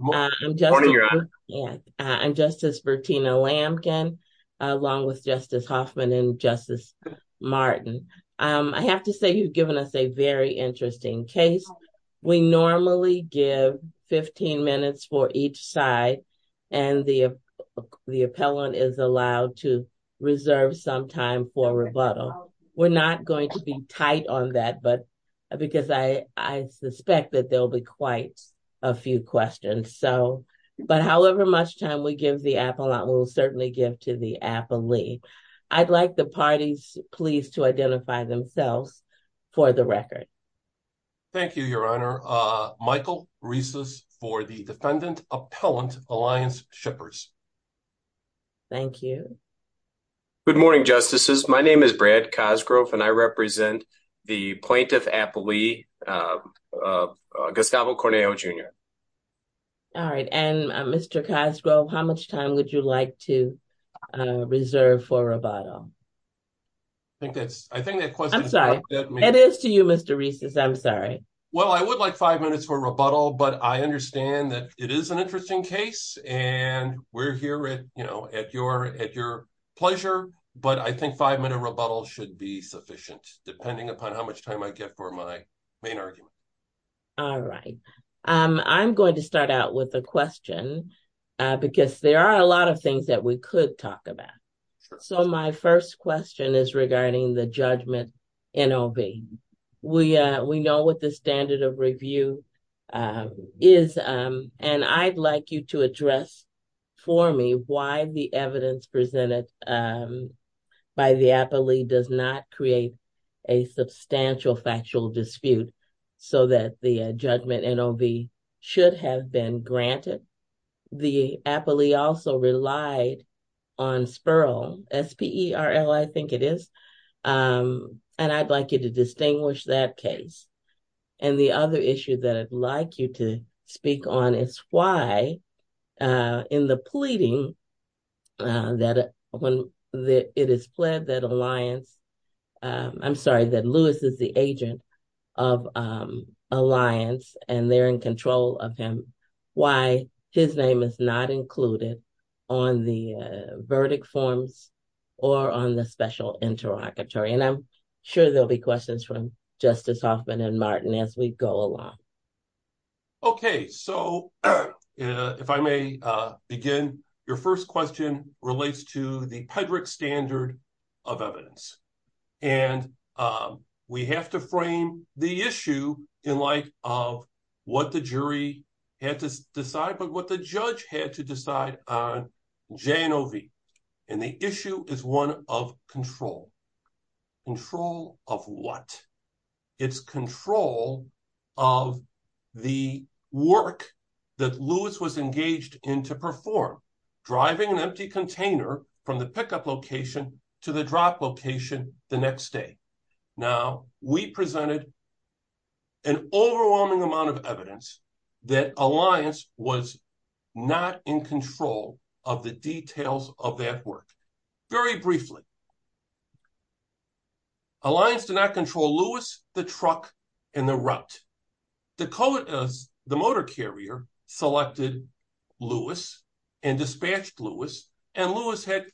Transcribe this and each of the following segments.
I'm Justice Bertina Lampkin, along with Justice Hoffman and Justice Martin. I have to say you've given us a very interesting case. We normally give 15 minutes for each side, and the appellant is allowed to reserve some time for rebuttal. We're not going to be tight on that, because I suspect that there will be quite a few questions. But however much time we give the appellant, we'll certainly give to the appellee. I'd like the parties, please, to identify themselves for the record. Thank you, Your Honor. Michael Rieses for the Defendant Appellant Alliance Shippers. Thank you. Good morning, Justices. My name is Brad Cosgrove, and I represent the Plaintiff Appellee, Gustavo Cornejo, Jr. All right, and Mr. Cosgrove, how much time would you like to reserve for rebuttal? I think that question is up to me. I'm sorry. It is to you, Mr. Rieses. I'm sorry. Well, I would like five minutes for rebuttal, but I understand that it is an interesting case, and we're here at your pleasure. But I think five minute rebuttal should be sufficient, depending upon how much time I get for my main argument. All right. I'm going to start out with a question, because there are a lot of things that we could talk about. So, my first question is regarding the judgment NOV. We know what the standard of review is, and I'd like you to address for me why the evidence presented by the appellee does not create a substantial factual dispute so that the judgment NOV should have been granted. The appellee also relied on SPERL, S-P-E-R-L, I think it is, and I'd like you to distinguish that case. And the other issue that I'd like you to speak on is why, in the pleading that it is pled that Lewis is the agent of Alliance, and they're in control of him, why his name is not included on the verdict forms or on the special interrogatory. And I'm sure there will be questions from Justice Hoffman and Martin as we go along. Okay. So, if I may begin, your first question relates to the PEDREC standard of evidence, and we have to frame the issue in light of what the jury had to decide, but what the judge had to decide on J-N-O-V, and the issue is one of control. Control of what? It's control of the work that Lewis was engaged in to perform, driving an empty container from the pickup location to the drop location the next day. Now, we presented an overwhelming amount of evidence that Alliance was not in control of the details of that work. Very briefly, Alliance did not control Lewis, the truck, and the route. The motor carrier selected Lewis and dispatched Lewis, and Lewis had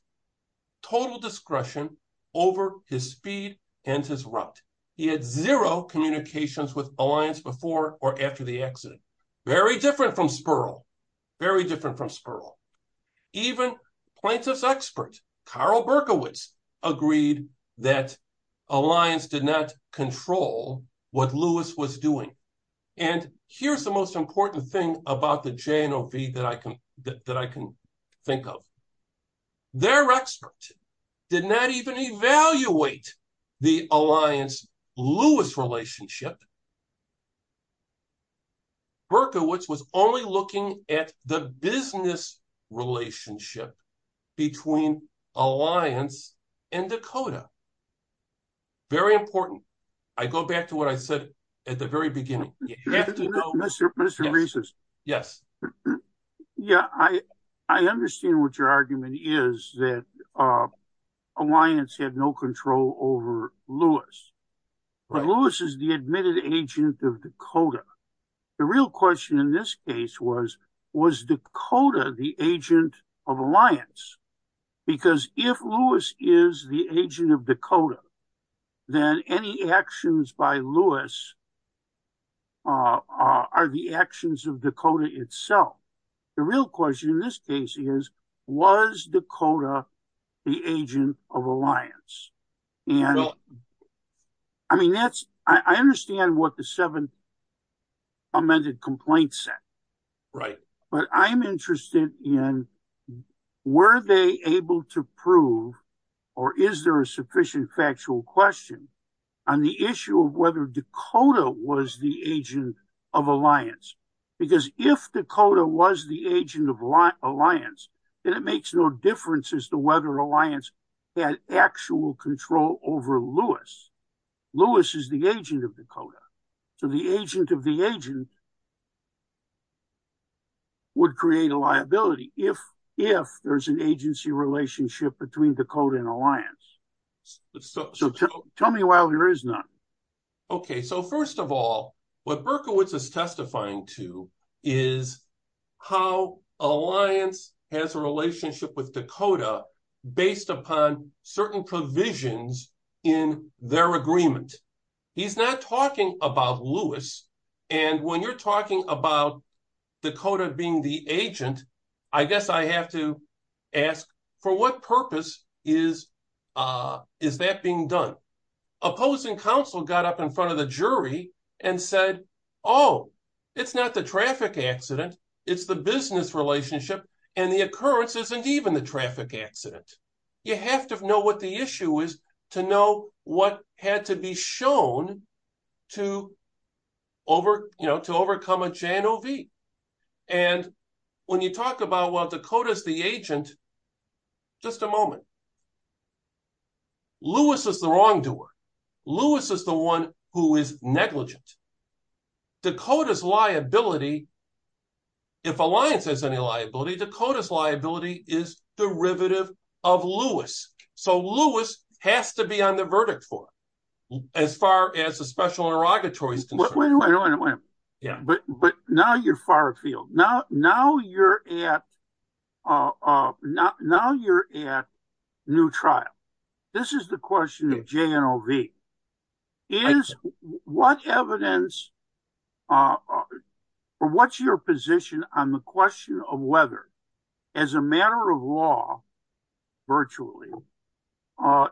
total discretion over his speed and his route. He had zero communications with Alliance before or after the accident. Very different from Spurl. Very different from Spurl. Even plaintiff's expert, Carl Berkowitz, agreed that Alliance did not control what Lewis was doing, and here's the most important thing about the J-N-O-V that I can think of. Their expert did not even evaluate the Alliance-Lewis relationship. Berkowitz was only looking at the business relationship between Alliance and Dakota. Very important. I go back to what I said at the very beginning. You have to go— Mr. Reeses. Yes. Yeah, I understand what your argument is, that Alliance had no control over Lewis, but Lewis is the admitted agent of Dakota. The real question in this case was, was Dakota the agent of Alliance? Because if Lewis is the agent of Dakota, then any actions by Lewis are the actions of Dakota itself. The real question in this case is, was Dakota the agent of Alliance? I understand what the seven amended complaints said, but I'm interested in, were they able to prove, or is there a sufficient factual question on the issue of whether Dakota was the agent of Alliance? Because if Dakota was the agent of Alliance, then it makes no difference as to whether Berkowitz has any factual control over Lewis. Lewis is the agent of Dakota, so the agent of the agent would create a liability if there's an agency relationship between Dakota and Alliance. Tell me why there is none. Okay, so first of all, what Berkowitz is testifying to is how Alliance has a relationship with the decisions in their agreement. He's not talking about Lewis, and when you're talking about Dakota being the agent, I guess I have to ask, for what purpose is that being done? Opposing counsel got up in front of the jury and said, oh, it's not the traffic accident, it's the business relationship, and the occurrence isn't even the traffic accident. You have to know what the issue is to know what had to be shown to overcome a JNOV. And when you talk about, well, Dakota's the agent, just a moment. Lewis is the wrongdoer. Lewis is the one who is negligent. Dakota's liability, if Alliance has any liability, Dakota's liability is derivative of Lewis. So Lewis has to be on the verdict for it, as far as the special interrogatory is concerned. But now you're far afield. Now you're at new trial. This is the question of JNOV. Is what evidence, or what's your position on the question of whether, as a matter of law, virtually,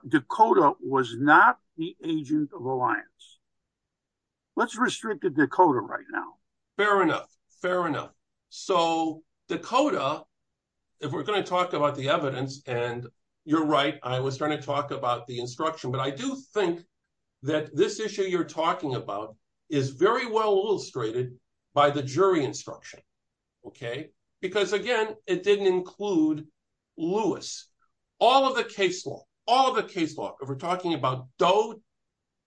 Dakota was not the agent of Alliance? Let's restrict to Dakota right now. Fair enough, fair enough. So Dakota, if we're going to talk about the evidence, and you're right, I was going to that this issue you're talking about is very well illustrated by the jury instruction. Because again, it didn't include Lewis. All of the case law, all of the case law, if we're talking about Doe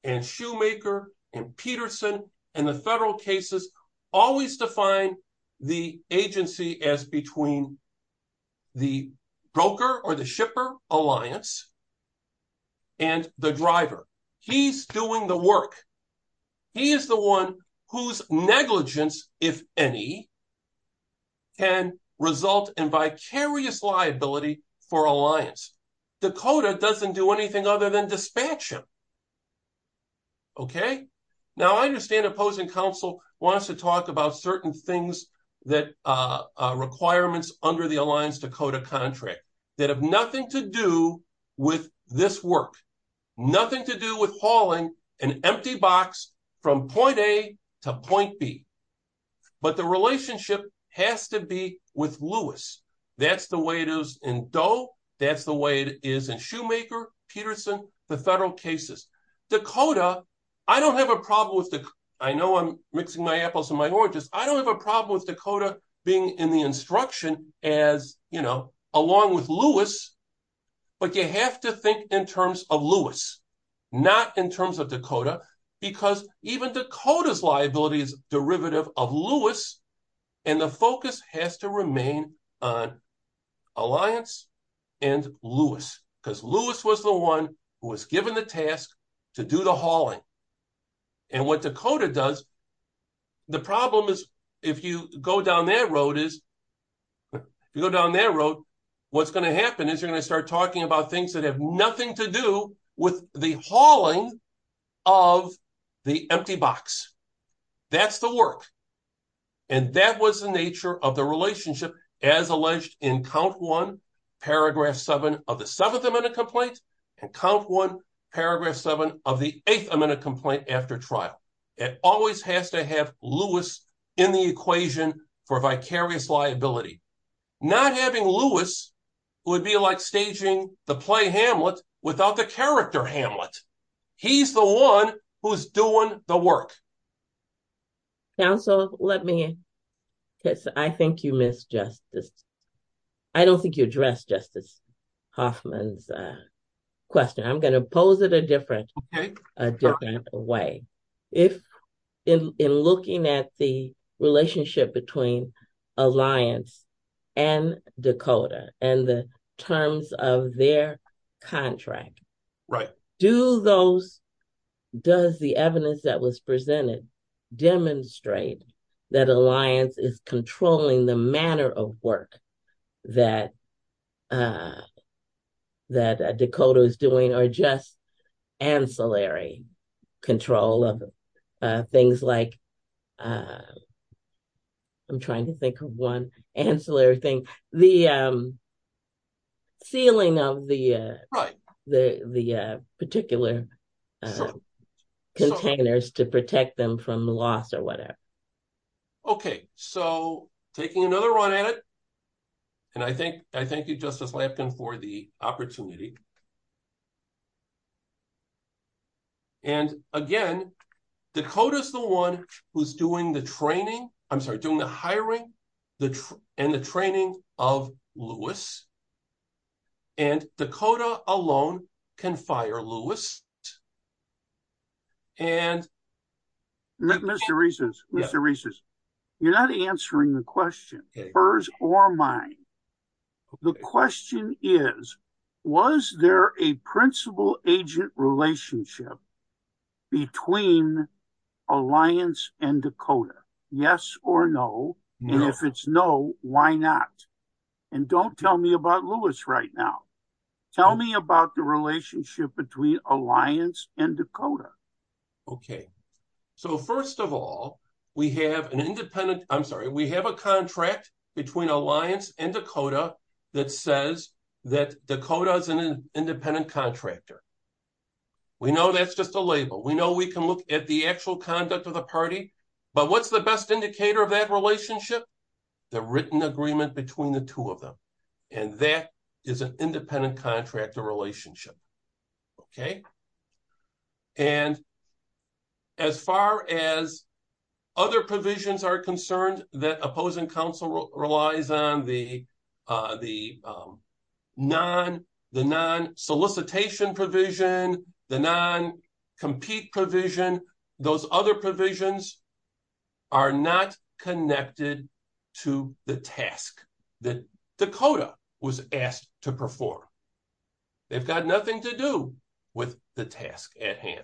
and Shoemaker and Peterson and the federal cases, always define the agency as between the broker or the shipper alliance and the driver. He's doing the work. He is the one whose negligence, if any, can result in vicarious liability for Alliance. Dakota doesn't do anything other than dispatch him. Now I understand opposing counsel wants to talk about certain things, requirements under the Alliance Dakota contract that have nothing to do with this work. Nothing to do with hauling an empty box from point A to point B. But the relationship has to be with Lewis. That's the way it is in Doe, that's the way it is in Shoemaker, Peterson, the federal cases. Dakota, I don't have a problem with, I know I'm mixing my apples and my oranges, I don't have a problem with Dakota being in the instruction as, you know, along with Lewis, but you have to think in terms of Lewis, not in terms of Dakota, because even Dakota's liability is derivative of Lewis and the focus has to remain on Alliance and Lewis, because Lewis was the one who was given the task to do the hauling. And what Dakota does, the problem is, if you go down that road, what's going to happen is you're going to start talking about things that have nothing to do with the hauling of the empty box. That's the work. And that was the nature of the relationship, as alleged in count one, paragraph seven of the Seventh Amendment complaint, and count one, paragraph seven of the Eighth Amendment complaint after trial. It always has to have Lewis in the equation for vicarious liability. Not having Lewis would be like staging the play Hamlet without the character Hamlet. He's the one who's doing the work. Counsel, let me, because I think you missed Justice. I don't think you addressed Justice Hoffman's question. I'm going to pose it a different way. If in looking at the relationship between Alliance and Dakota and the terms of their contract, do those, does the evidence that was presented demonstrate that Alliance is doing the work that Dakota is doing or just ancillary control of things like, I'm trying to think of one ancillary thing, the sealing of the particular containers to protect them from the loss or whatever? OK, so taking another run at it, and I think I thank you, Justice Lampkin, for the opportunity. And again, Dakota is the one who's doing the training, I'm sorry, doing the hiring and the training of Lewis. And Dakota alone can fire Lewis. Mr. Reeses, you're not answering the question, hers or mine, the question is, was there a principal agent relationship between Alliance and Dakota, yes or no? And if it's no, why not? And don't tell me about Lewis right now. Tell me about the relationship between Alliance and Dakota. OK, so first of all, we have an independent, I'm sorry, we have a contract between Alliance and Dakota that says that Dakota is an independent contractor. We know that's just a label, we know we can look at the actual conduct of the party, but what's the best indicator of that relationship? The written agreement between the two of them, and that is an independent contractor relationship. And as far as other provisions are concerned, that opposing counsel relies on the non-solicitation provision, the non-compete provision, those other provisions are not connected to the task that Dakota was asked to perform. They've got nothing to do with the task at hand.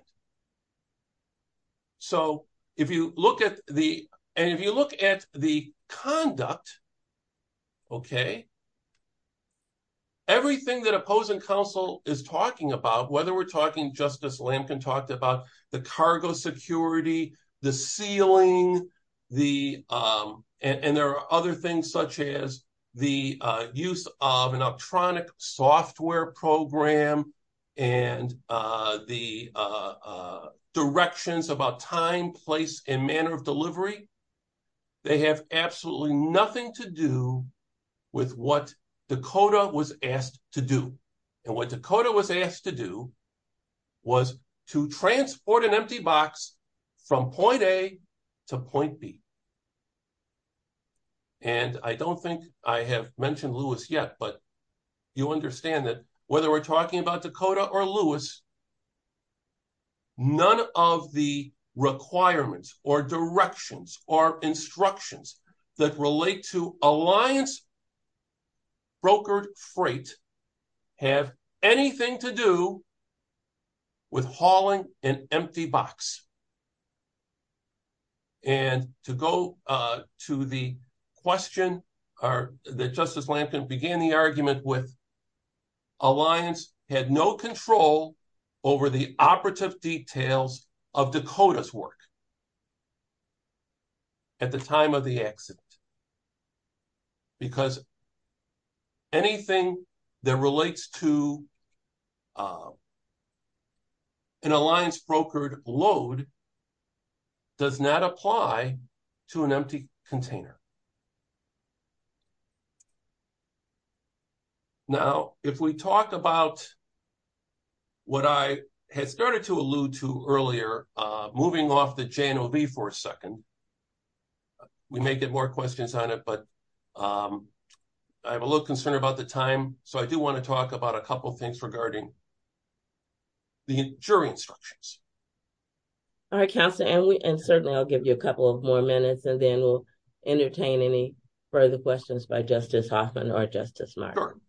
So if you look at the and if you look at the conduct. OK. Everything that opposing counsel is talking about, whether we're talking, Justice Lampkin talked about the cargo security, the sealing, the and there are other things such as the use of an electronic software program and the directions about time, place and manner of delivery. They have absolutely nothing to do with what Dakota was asked to do and what Dakota was asked to do was to transport an empty box from point A to point B. And I don't think I have mentioned Lewis yet, but you understand that whether we're talking about Dakota or Lewis, none of the requirements or directions or instructions that relate to Alliance brokered freight have anything to do with hauling an empty box. And to go to the question or that Justice Lampkin began the argument with, Alliance had no control over the operative details of Dakota's work at the time of the accident, because anything that relates to an Alliance brokered load does not apply to an empty container. Now, if we talk about what I had started to allude to earlier, moving off the JNOB for a second. We may get more questions on it, but I'm a little concerned about the time, so I do want to talk about a couple of things regarding the jury instructions. All right, Counselor, and certainly I'll give you a couple of more minutes and then we'll entertain any further questions by Justice Hoffman or Justice Martin.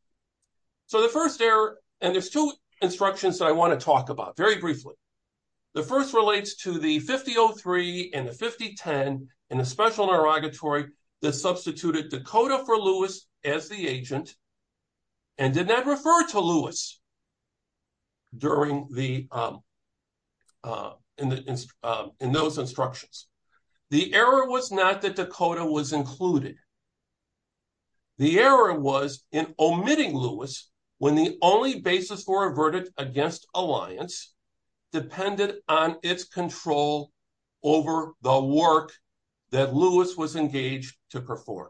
So the first error, and there's two instructions that I want to talk about very briefly. The first relates to the 50-03 and the 50-10 in a special interrogatory that substituted Dakota for Lewis as the agent and did not refer to Lewis in those instructions. The error was not that Dakota was included. The error was in omitting Lewis when the only basis for a verdict against Alliance depended on its control over the work that Lewis was engaged to perform.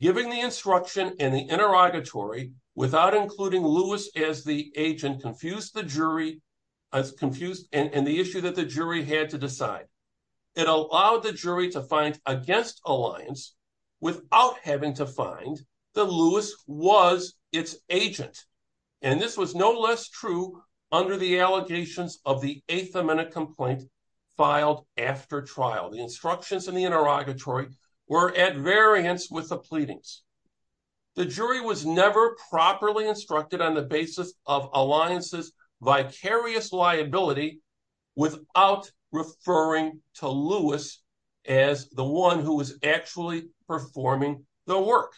Giving the instruction in the interrogatory without including Lewis as the agent confused the jury and the issue that the jury had to decide. It allowed the jury to find against Alliance without having to find that Lewis was its agent, and this was no less true under the allegations of the Eighth Amendment complaint filed after trial. The instructions in the interrogatory were at variance with the pleadings. The jury was never properly instructed on the basis of Alliance's vicarious liability without referring to Lewis as the one who was actually performing the work.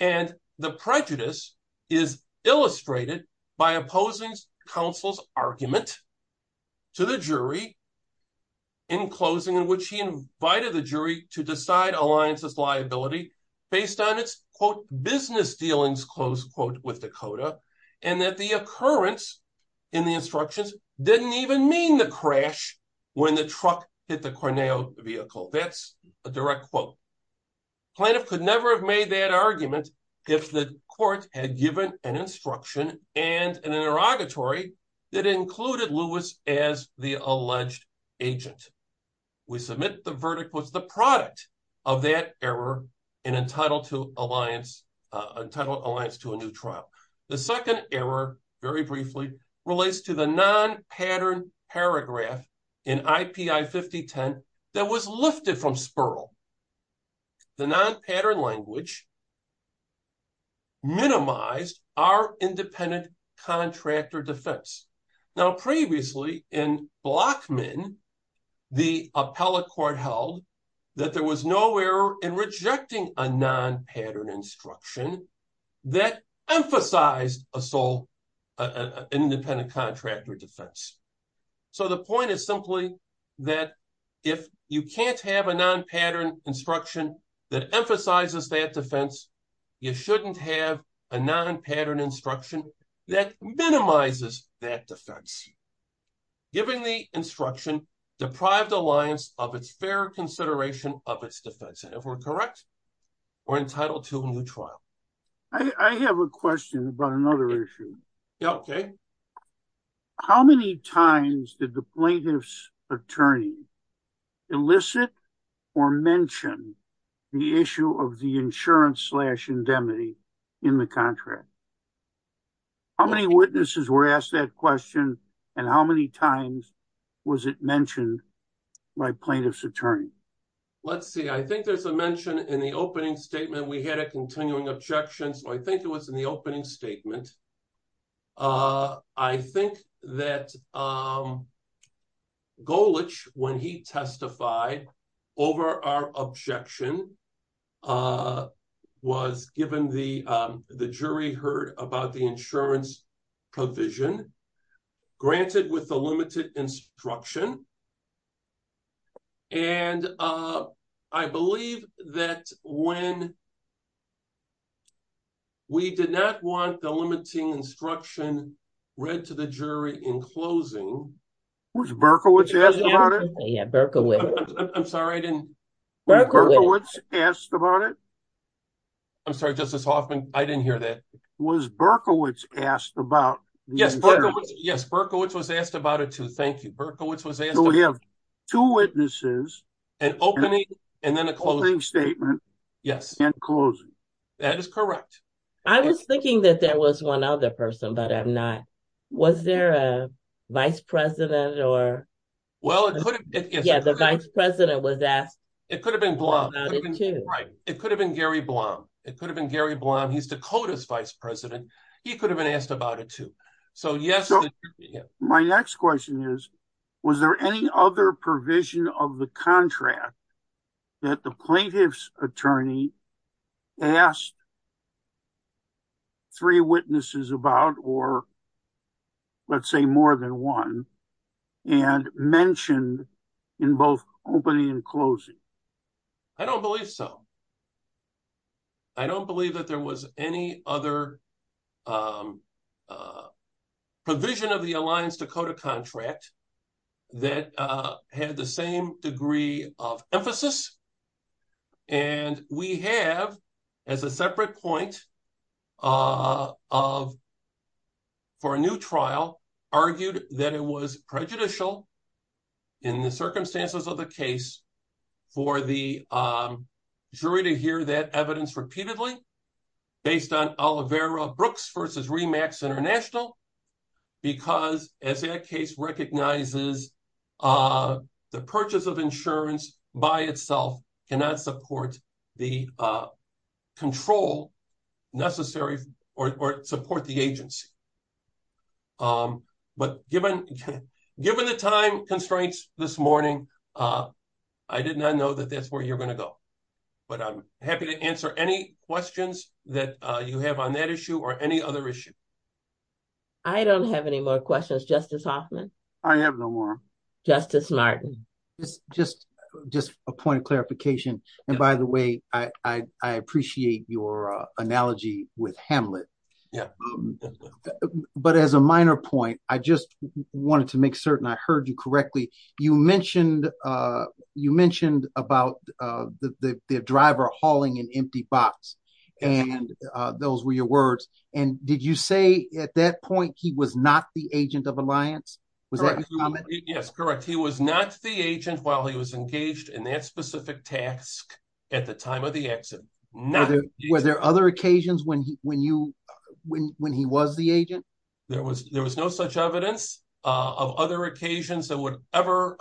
And the prejudice is illustrated by opposing counsel's argument to the jury in closing, in which he invited the jury to decide Alliance's liability based on its, quote, business dealings, close quote, with Dakota, and that the occurrence in the instructions didn't even mean the crash when the truck hit the Corneo vehicle. That's a direct quote. Plaintiff could never have made that argument if the court had given an instruction and an interrogatory that included Lewis as the alleged agent. We submit the verdict was the product of that error and entitled Alliance to a new trial. The second error, very briefly, relates to the non-pattern paragraph in IPI 5010 that was lifted from Spurl. The non-pattern language minimized our independent contractor defense. Now, previously in Blockman, the appellate court held that there was no error in rejecting a sole independent contractor defense. So the point is simply that if you can't have a non-pattern instruction that emphasizes that defense, you shouldn't have a non-pattern instruction that minimizes that defense. Given the instruction, deprived Alliance of its fair consideration of its defense. And if we're correct, we're entitled to a new trial. I have a question about another issue. How many times did the plaintiff's attorney elicit or mention the issue of the insurance slash indemnity in the contract? How many witnesses were asked that question and how many times was it mentioned by plaintiff's attorney? Let's see. I think there's a mention in the opening statement. We had a continuing objection, so I think it was in the opening statement. I think that Golich, when he testified over our objection, was given the, the jury heard about the insurance provision granted with the limited instruction. And I believe that when we did not want the limiting instruction read to the jury in closing. Was Berkowitz asked about it? Yeah, Berkowitz. I'm sorry. I didn't. Berkowitz asked about it. I'm sorry, Justice Hoffman. I didn't hear that. Was Berkowitz asked about? Yes, Berkowitz. Yes, Berkowitz was asked about it too. Thank you. Berkowitz was asked about it. Two witnesses. An opening and then a closing statement. Yes. And closing. That is correct. I was thinking that there was one other person, but I'm not. Was there a vice president or? Well, it could have been. Yeah, the vice president was asked. It could have been Blum. Right. It could have been Gary Blum. It could have been Gary Blum. He's Dakota's vice president. He could have been asked about it too. So yes. My next question is, was there any other provision of the contract that the plaintiff's attorney asked three witnesses about or let's say more than one and mentioned in both opening and closing? I don't believe so. I don't believe that there was any other provision of the Alliance Dakota contract that had the same degree of emphasis. And we have, as a separate point for a new trial, argued that it was prejudicial in the circumstances of the case for the jury to hear that evidence repeatedly based on Olivera Brooks versus REMAX International, because as that case recognizes, the purchase of insurance by itself cannot support the control necessary or support the agency. But given the time constraints this morning, I did not know that that's where you're going to go. But I'm happy to answer any questions that you have on that issue or any other issue. I don't have any more questions, Justice Hoffman. I have no more. Justice Martin. Just a point of clarification. And by the way, I appreciate your analogy with Hamlet. Yeah. But as a minor point, I just wanted to make certain I heard you correctly. You mentioned about the driver hauling an empty box. And those were your words. And did you say at that point he was not the agent of Alliance? Was that your comment? Yes, correct. He was not the agent while he was engaged in that specific task at the time of the exit. Were there other occasions when he was the agent? There was no such evidence of other occasions that would ever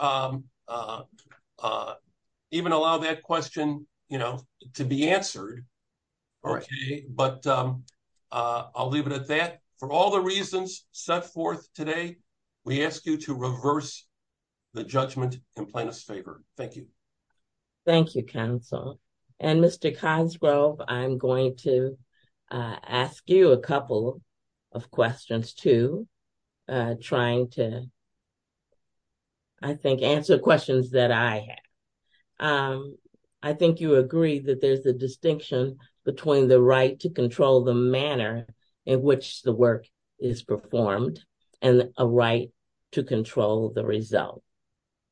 even allow that question to be answered. But I'll leave it at that. For all the reasons set forth today, we ask you to reverse the judgment in plaintiff's favor. Thank you. Thank you, counsel. And Mr. Cosgrove, I'm going to ask you a couple of questions, too, trying to, I think, answer questions that I have. I think you agree that there's a distinction between the right to control the manner in which the work is performed and a right to control the result.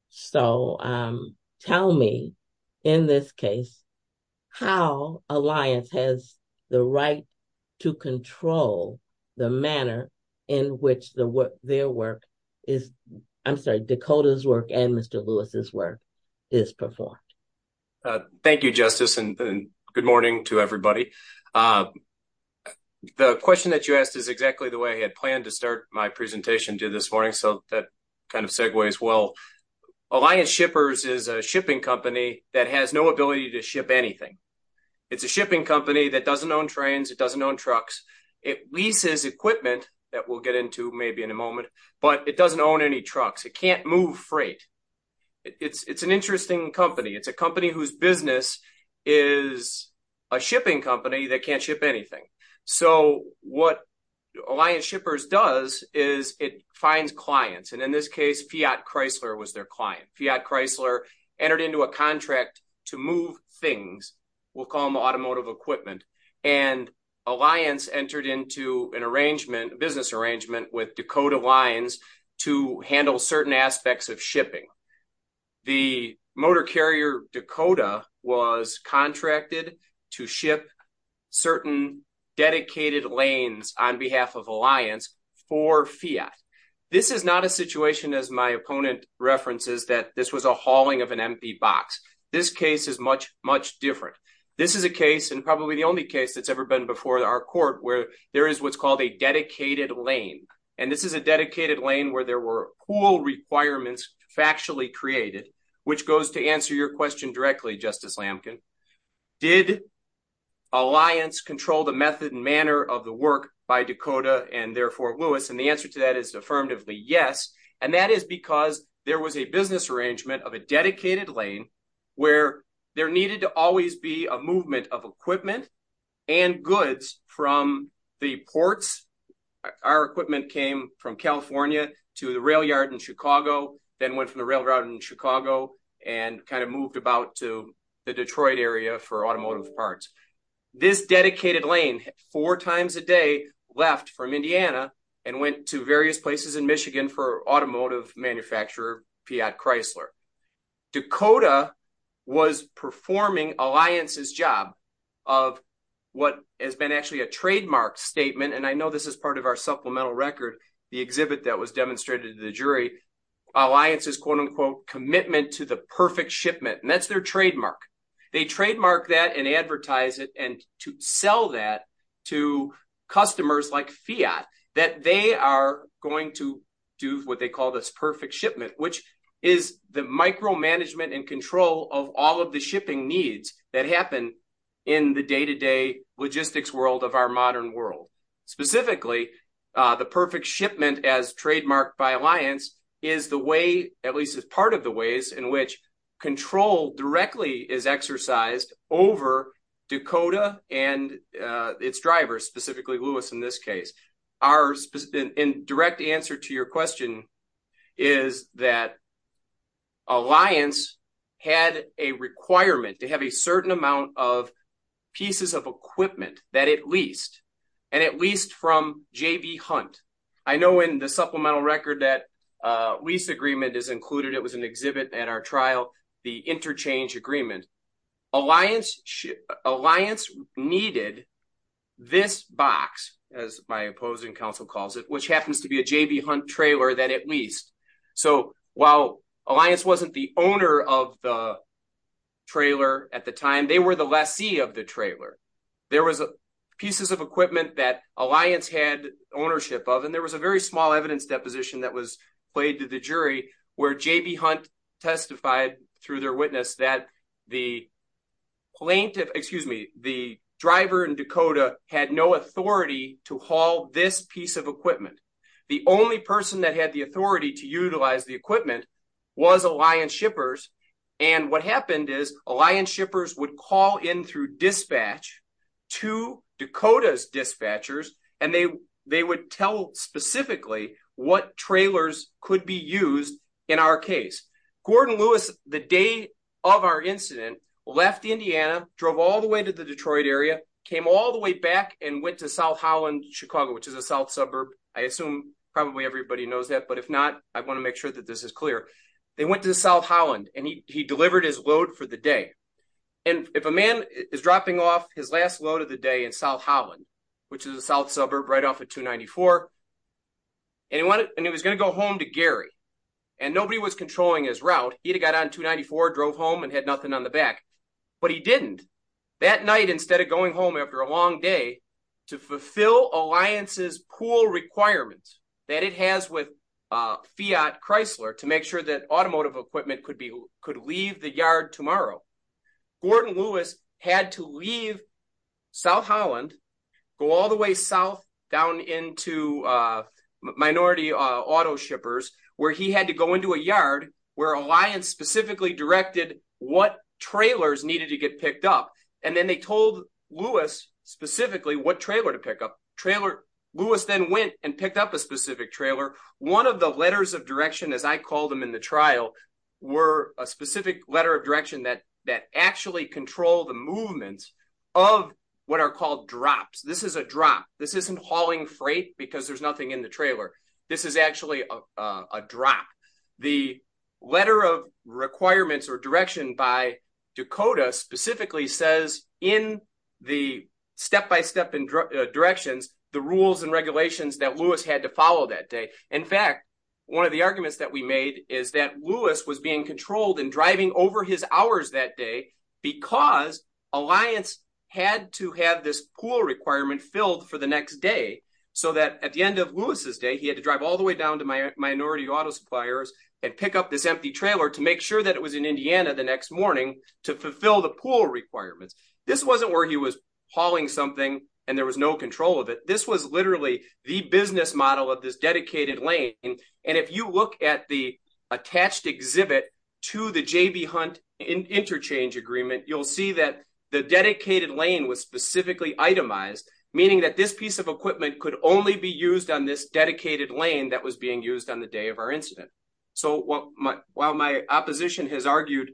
So tell me, in this case, how Alliance has the right to control the manner in which their work is, I'm sorry, Dakota's work and Mr. Lewis's work is performed. Thank you, Justice, and good morning to everybody. The question that you asked is exactly the way I had planned to start my presentation to this morning. So that kind of segues well. Alliance Shippers is a shipping company that has no ability to ship anything. It's a shipping company that doesn't own trains. It doesn't own trucks. It leases equipment that we'll get into maybe in a moment, but it doesn't own any trucks. It can't move freight. It's an interesting company. It's a company whose business is a shipping company that can't ship anything. So what Alliance Shippers does is it finds clients. And in this case, Fiat Chrysler was their client. Fiat Chrysler entered into a contract to move things. We'll call them automotive equipment. And Alliance entered into a business arrangement with Dakota Lines to handle certain aspects of shipping. The motor carrier Dakota was contracted to ship certain dedicated lanes on behalf of Alliance for Fiat. This is not a situation, as my opponent references, that this was a hauling of an empty box. This case is much, much different. This is a case, and probably the only case that's ever been before our court, where there is what's called a dedicated lane. And this is a dedicated lane where there were cool requirements factually created, which goes to answer your question directly, Justice Lamkin. Did Alliance control the method and manner of the work by Dakota and therefore Lewis? And the answer to that is affirmatively yes. And that is because there was a business arrangement of a dedicated lane where there needed to always be a movement of equipment and goods from the ports. Our equipment came from California to the rail yard in Chicago, then went from the rail route in Chicago and kind of moved about to the Detroit area for automotive parts. This dedicated lane, four times a day, left from Indiana and went to various places in Michigan for automotive manufacturer Fiat Chrysler. Dakota was performing Alliance's job of what has been actually a trademark statement. And I know this is part of our supplemental record, the exhibit that was demonstrated to the jury, Alliance's quote-unquote commitment to the perfect shipment. And that's their trademark. They trademark that and advertise it and to sell that to customers like Fiat that they are going to do what they call this perfect shipment, which is the micromanagement and control of all of the shipping needs that happen in the day-to-day logistics world of our modern world. Specifically, the perfect shipment as trademarked by Alliance is the way, at least as part of the ways in which control directly is exercised over Dakota and its drivers, specifically Lewis in this case. Our direct answer to your question is that Alliance had a requirement to have a certain amount of pieces of equipment that it leased, and it leased from JV Hunt. I know in the supplemental record that lease agreement is included. It was an exhibit at our trial, the interchange agreement. Alliance needed this box, as my opposing counsel calls it, which happens to be a JV Hunt trailer that it leased. So while Alliance wasn't the owner of the trailer at the time, they were the lessee of the trailer. There was pieces of equipment that Alliance had ownership of, and there was a very small evidence deposition that was played to the jury where JV Hunt testified through their witness that the driver in Dakota had no authority to haul this piece of equipment. The only person that had the authority to utilize the equipment was Alliance shippers, and what happened is Alliance shippers would call in through dispatch to Dakota's dispatchers, and they would tell specifically what trailers could be used in our case. Gordon Lewis, the day of our incident, left Indiana, drove all the way to the Detroit area, came all the way back and went to South Holland, Chicago, which is a south suburb. I assume probably everybody knows that, but if not, I want to make sure that this is clear. They went to South Holland, and he delivered his load for the day. And if a man is dropping off his last load of the day in South Holland, which is a south suburb right off of 294, and he was going to go home to Gary, and nobody was controlling his route, he'd have got on 294, drove home, and had nothing on the back. But he didn't. That night, instead of going home after a long day to fulfill Alliance's pull requirements that it has with Fiat Chrysler to make sure that automotive equipment could leave the yard tomorrow, Gordon Lewis had to leave South Holland, go all the way south down into minority auto shippers, where he had to go into a yard where Alliance specifically directed what trailers needed to get picked up, and then they told Lewis specifically what trailer to pick up. Lewis then went and picked up a specific trailer. One of the letters of direction, as I call them in the trial, were a specific letter of direction that actually controlled the movement of what are called drops. This is a drop. This isn't hauling freight because there's nothing in the trailer. This is actually a drop. The letter of requirements or direction by Dakota specifically says in the step-by-step directions the rules and regulations that Lewis had to follow that day. In fact, one of the arguments that we made is that Lewis was being controlled and driving over his hours that day because Alliance had to have this pull requirement filled for the next day so that at the end of Lewis's day, he had to drive all the way down to minority auto suppliers and pick up this empty trailer to make sure that it was in Indiana the next morning to fulfill the pull requirements. This wasn't where he was hauling something and there was no control of it. This was literally the business model of this dedicated lane, and if you look at the attached exhibit to the J.B. Hunt interchange agreement, you'll see that the dedicated lane was specifically itemized, meaning that this piece of equipment could only be used on this dedicated lane that was being used on the day of our incident. So while my opposition has argued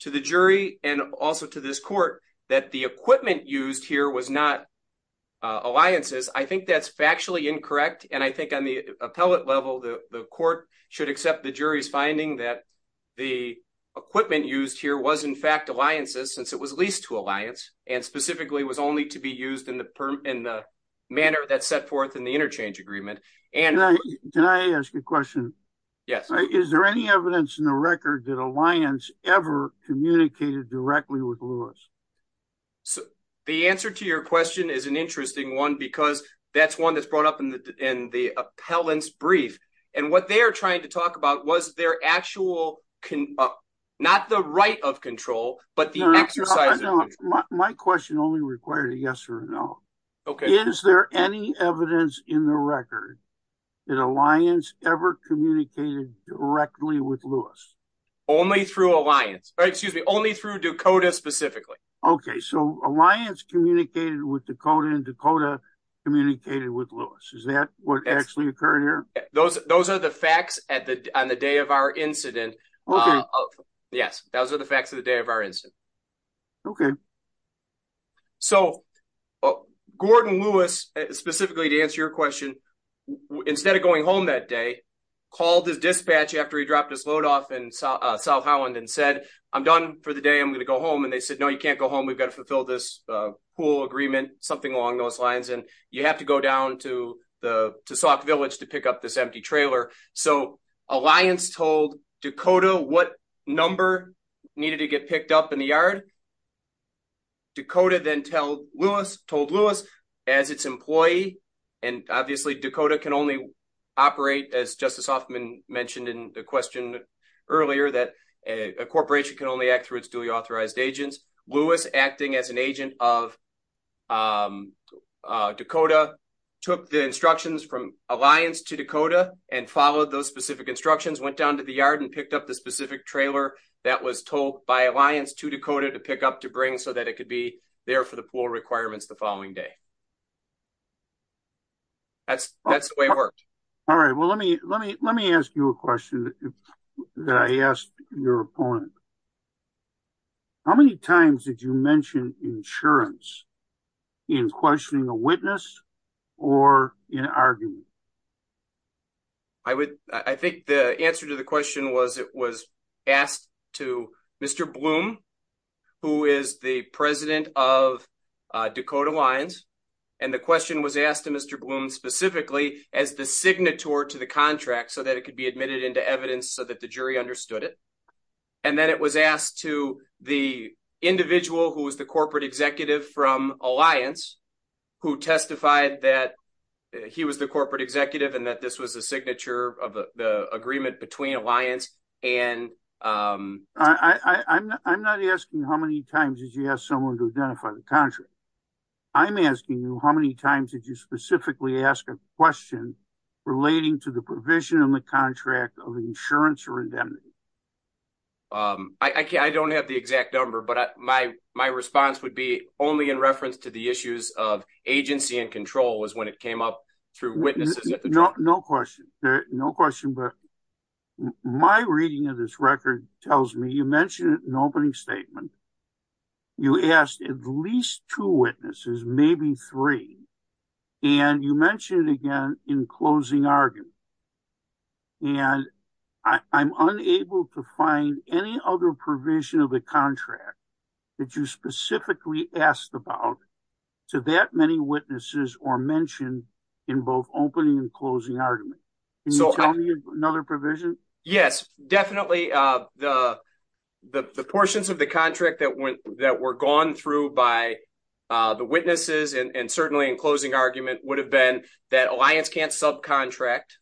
to the jury and also to this court that the equipment used here was not Alliance's, I think that's factually incorrect, and I think on the appellate level the court should accept the jury's finding that the equipment used here was in fact Alliance's since it was leased to Alliance and specifically was only to be used in the manner that's set in the interchange agreement. Can I ask a question? Yes. Is there any evidence in the record that Alliance ever communicated directly with Lewis? The answer to your question is an interesting one because that's one that's brought up in the appellant's brief, and what they're trying to talk about was their actual, not the right of control, but the exercise of control. My question only required a yes or a no. Is there any evidence in the record that Alliance ever communicated directly with Lewis? Only through Alliance, or excuse me, only through Dakota specifically. Okay, so Alliance communicated with Dakota and Dakota communicated with Lewis. Is that what actually occurred here? Those are the facts on the day of our incident. Yes, those are the facts of the day of our incident. Okay. So, Gordon Lewis, specifically to answer your question, instead of going home that day, called his dispatch after he dropped his load off in South Holland and said, I'm done for the day, I'm going to go home. And they said, no, you can't go home. We've got to fulfill this pool agreement, something along those lines. And you have to go down to Sauk Village to pick up this empty trailer. So, Alliance told Dakota what number needed to get picked up in the yard. Dakota then told Lewis, as its employee, and obviously Dakota can only operate, as Justice Hoffman mentioned in the question earlier, that a corporation can only act through its duly authorized agents. Lewis, acting as an agent of Dakota, took the instructions from Alliance to Dakota and followed those specific instructions, went down to the yard and picked up the specific trailer that was told by Alliance to Dakota to pick up to bring, so that it could be there for the pool requirements the following day. That's the way it worked. All right. Well, let me ask you a question that I asked your opponent. How many times did you mention insurance in questioning a witness or in arguing? I would, I think the answer to the question was it was asked to Mr. Bloom, who is the president of Dakota Lions, and the question was asked to Mr. Bloom specifically as the signatory to the contract, so that it could be admitted into evidence, so that the jury understood it. And then it was asked to the individual who was the corporate executive from Alliance, who testified that he was the corporate executive, and that this was a signature of the agreement between Alliance and... I'm not asking how many times did you ask someone to identify the contract. I'm asking you how many times did you specifically ask a question relating to the provision in the contract of insurance or indemnity? I don't have the exact number, but my response would be only in reference to the issues of agency and control was when it came up through witnesses at the time. No question. No question. But my reading of this record tells me you mentioned it in an opening statement. You asked at least two witnesses, maybe three, and you mentioned it again in closing argument. And I'm unable to find any other provision of the contract that you specifically asked about to that many witnesses or mentioned in both opening and closing argument. Can you tell me another provision? Yes, definitely. The portions of the contract that were gone through by the witnesses and certainly in closing argument would have been that Alliance can't subcontract.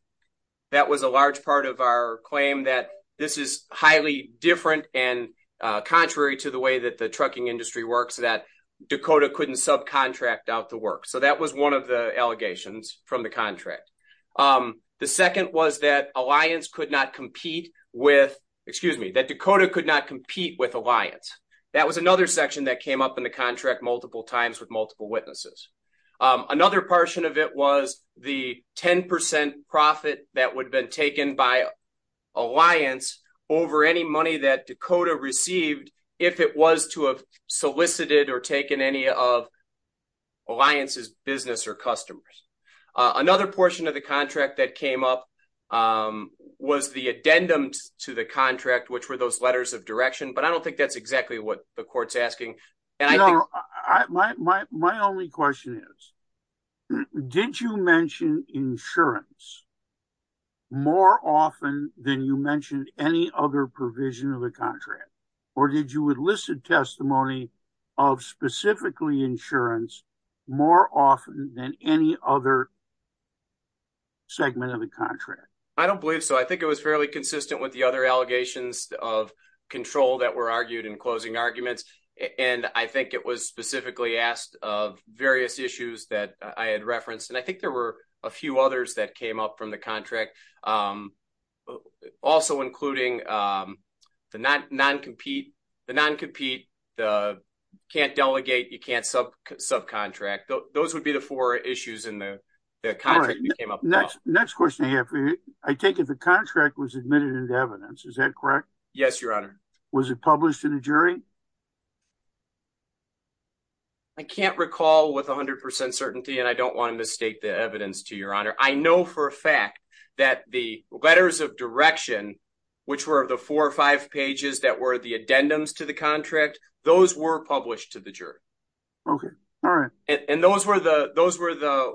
That was a large part of our claim that this is highly different and contrary to the way that the trucking industry works that Dakota couldn't subcontract out the work. So that was one of the allegations from the contract. The second was that Alliance could not compete with... Excuse me, that Dakota could not compete with Alliance. That was another section that came up in the contract multiple times with multiple witnesses. Another portion of it was the 10% profit that would have been taken by Alliance over any money that Dakota received if it was to have solicited or taken any of Alliance's business or customers. Another portion of the contract that came up was the addendum to the contract, which were those letters of direction. But I don't think that's exactly what the court's asking. You know, my only question is, did you mention insurance more often than you mentioned any other provision of the contract? Or did you elicit testimony of specifically insurance more often than any other segment of the contract? I don't believe so. I think it was fairly consistent with the other allegations of control that were argued in I think it was specifically asked of various issues that I had referenced. And I think there were a few others that came up from the contract, also including the non-compete. The non-compete, the can't delegate, you can't subcontract. Those would be the four issues in the contract that came up. All right. Next question I have for you. I take it the contract was admitted into evidence. Is that correct? Yes, Your Honor. Was it published in a jury? I can't recall with 100% certainty. And I don't want to mistake the evidence to Your Honor. I know for a fact that the letters of direction, which were the four or five pages that were the addendums to the contract, those were published to the jury. Okay. All right. And those were the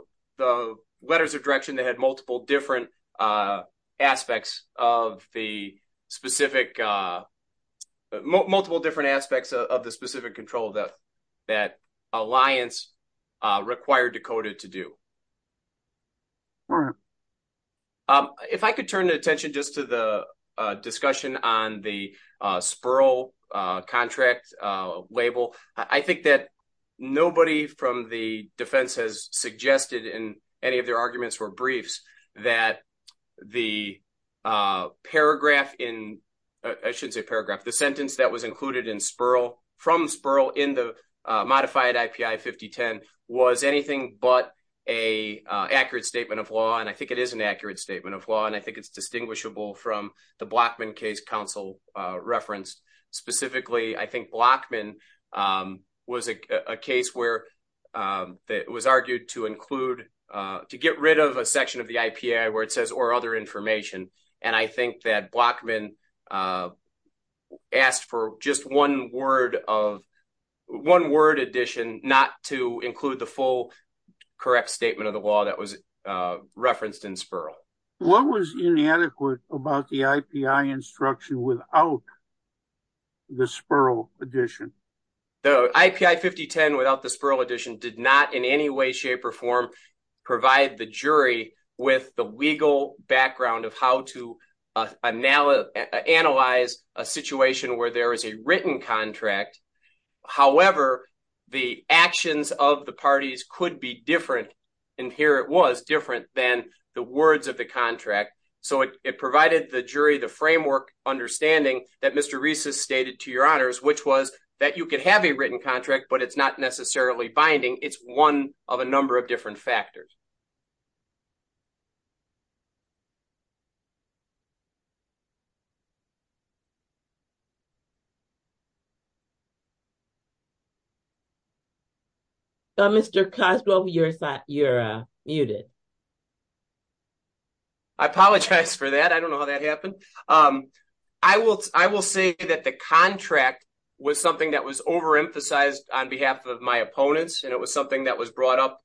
letters of direction that had multiple different aspects of the specific multiple different aspects of the specific control that that alliance required Dakota to do. All right. If I could turn the attention just to the discussion on the Spurl contract label, I think that nobody from the defense has suggested in any of their arguments or briefs that the paragraph in, I shouldn't say paragraph, the sentence that was included in Spurl from Spurl in the modified IPI 5010 was anything but a accurate statement of law. And I think it is an accurate statement of law. And I think it's distinguishable from the Blockman case counsel referenced. Specifically, I think Blockman was a case where it was argued to include, to get rid of a section of the IPI where it says or other information. And I think that Blockman asked for just one word of, one word addition, not to include the full correct statement of the law that was referenced in Spurl. What was inadequate about the IPI instruction without the Spurl addition? The IPI 5010 without the Spurl addition did not in any way, shape or form provide the jury with the legal background of how to analyze a situation where there is a written contract. However, the actions of the parties could be different. And here it was different than the words of the contract. So it provided the jury the framework understanding that Mr. Rees has stated to your honors, which was that you could have a written contract, but it's not necessarily binding. It's one of a number of different factors. Mr. Cosgrove, you're muted. I apologize for that. I don't know how that happened. Um, I will, I will say that the contract was something that was overemphasized on behalf of my opponents. And it was something that was brought up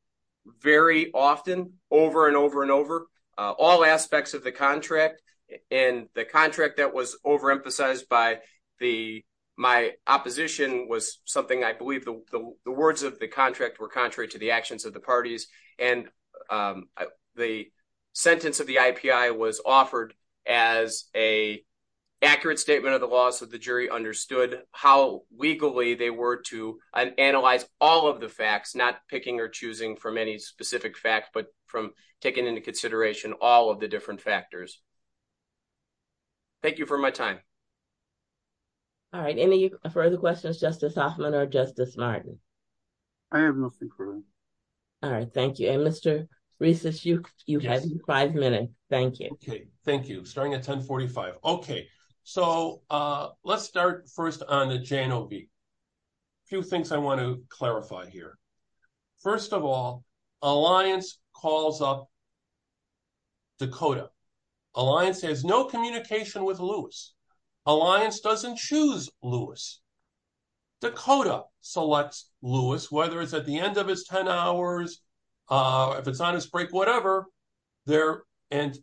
very often over and over and over all aspects of the contract and the contract that was overemphasized by the, my opposition was something I believe the words of the contract were contrary to the actions of the parties. And, um, the sentence of the IPI was offered as a accurate statement of the loss of the jury understood how legally they were to analyze all of the facts, not picking or choosing from any specific facts, but from taking into consideration all of the different factors. Thank you for my time. All right. Any further questions, Justice Hoffman or Justice Martin? I have nothing for you. All right. Thank you. And Mr. Reiss, you had five minutes. Thank you. Okay. Thank you. Starting at 1045. Okay. So, uh, let's start first on the JNOB. A few things I want to clarify here. First of all, Alliance calls up Dakota. Alliance has no communication with Lewis. Alliance doesn't choose Lewis. Dakota selects Lewis, whether it's at the end of his 10 hours, uh, if it's on his break, whatever there. And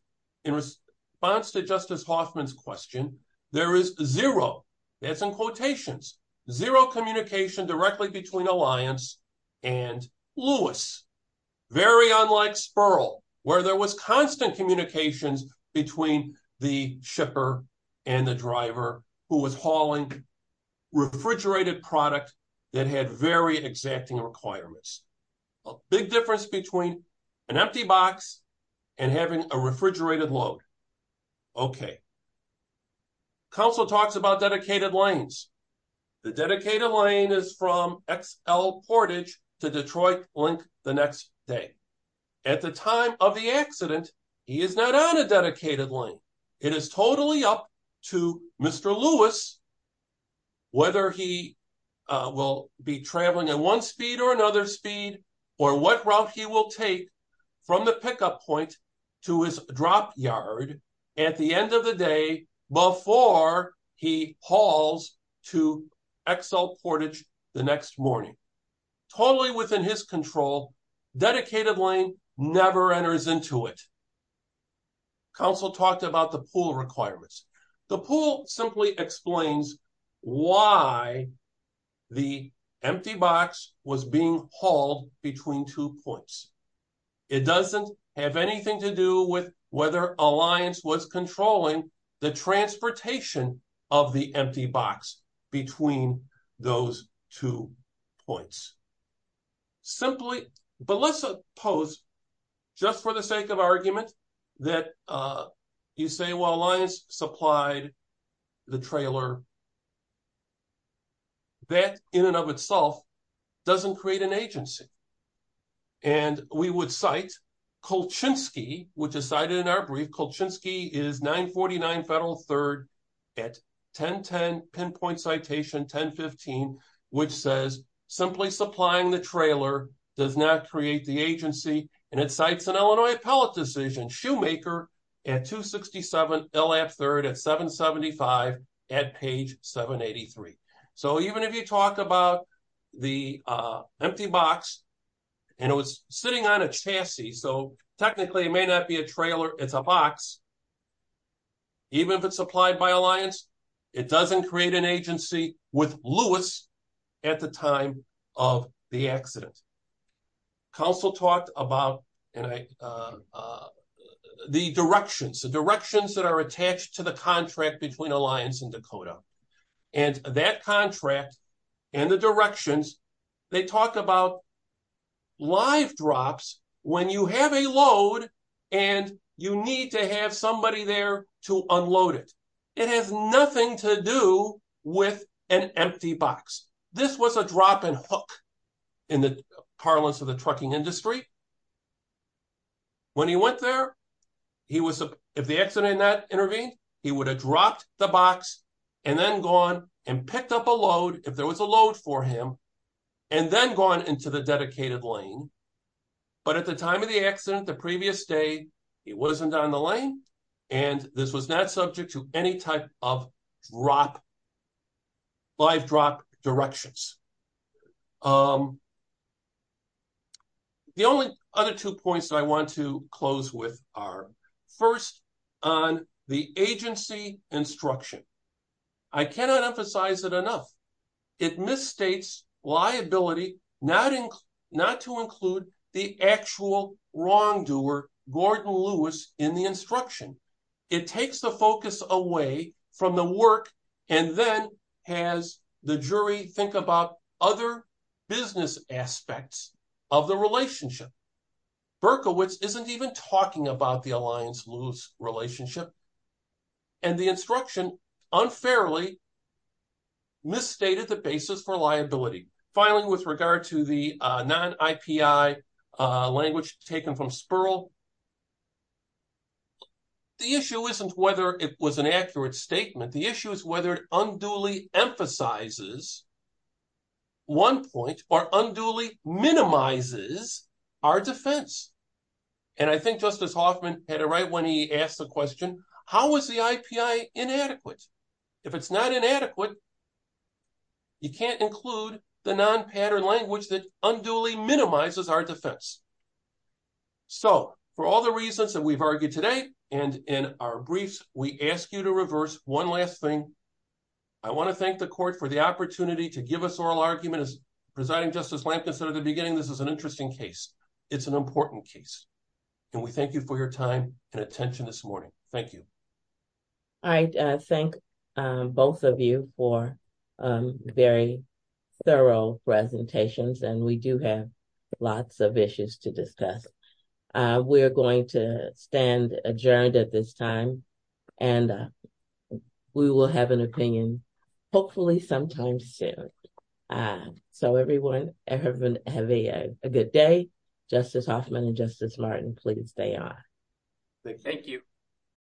in response to Justice Hoffman's question, there is zero, that's in quotations, zero communication directly between Alliance and Lewis. Very unlike Spurl, where there was constant communications between the shipper and the refrigerated product that had very exacting requirements. A big difference between an empty box and having a refrigerated load. Okay. Council talks about dedicated lanes. The dedicated lane is from XL Portage to Detroit Link the next day. At the time of the accident, he is not on a dedicated lane. It is totally up to Mr. Lewis, whether he will be traveling at one speed or another speed or what route he will take from the pickup point to his drop yard at the end of the day before he hauls to XL Portage the next morning. Totally within his control. Dedicated lane never enters into it. Council talked about the pool requirements. The pool simply explains why the empty box was being hauled between two points. It doesn't have anything to do with whether Alliance was controlling the transportation of the empty box between those two points. Simply, but let's suppose, just for the sake of argument, that you say, well, Alliance supplied the trailer. That in and of itself doesn't create an agency. And we would cite Kolchinsky, which is cited in our brief. Kolchinsky is 949 Federal 3rd at 1010 pinpoint citation 1015, which says simply supplying the trailer does not create the agency, and it cites an Illinois appellate decision, Shoemaker at 267 LF 3rd at 775 at page 783. So even if you talk about the empty box, and it was sitting on a chassis, so technically it may not be a trailer, it's a box, even if it's supplied by Alliance, it doesn't create an agency with Lewis at the time of the accident. Council talked about the directions, the directions that are attached to the contract between Alliance and Dakota, and that contract and the directions, they talk about live drops when you have a load and you need to have somebody there to unload it. It has nothing to do with an empty box. This was a drop and hook in the parlance of the trucking industry. When he went there, if the accident had not intervened, he would have dropped the box and then gone and picked up a load, if there was a load for him, and then gone into the dedicated lane. But at the time of the accident, the previous day, he wasn't on the lane, and this was not subject to any type of drop, live drop directions. The only other two points I want to close with are, first, on the agency instruction. I cannot emphasize it enough. It misstates liability not to include the actual wrongdoer, Gordon Lewis, in the instruction. It takes the focus away from the work and then has the jury think about other business aspects of the relationship. Berkowitz isn't even talking about the Alliance-Lewis relationship, and the instruction unfairly misstated the basis for liability. Finally, with regard to the non-IPI language taken from Spurl, the issue isn't whether it was an accurate statement. The issue is whether it unduly emphasizes one point or unduly minimizes our defense. I think Justice Hoffman had it right when he asked the question, how is the IPI inadequate? If it's not inadequate, you can't include the non-pattern language that unduly minimizes our defense. So, for all the reasons that we've argued today and in our briefs, we ask you to reverse one last thing. I want to thank the court for the opportunity to give us oral arguments. Presiding Justice Lampkin said at the beginning this is an interesting case. It's an important case. And we thank you for your time and attention this morning. Thank you. I thank both of you for very thorough presentations. And we do have lots of issues to discuss. We're going to stand adjourned at this time. And we will have an opinion hopefully sometime soon. So everyone, have a good day. Justice Hoffman and Justice Martin, please stay on. Thank you.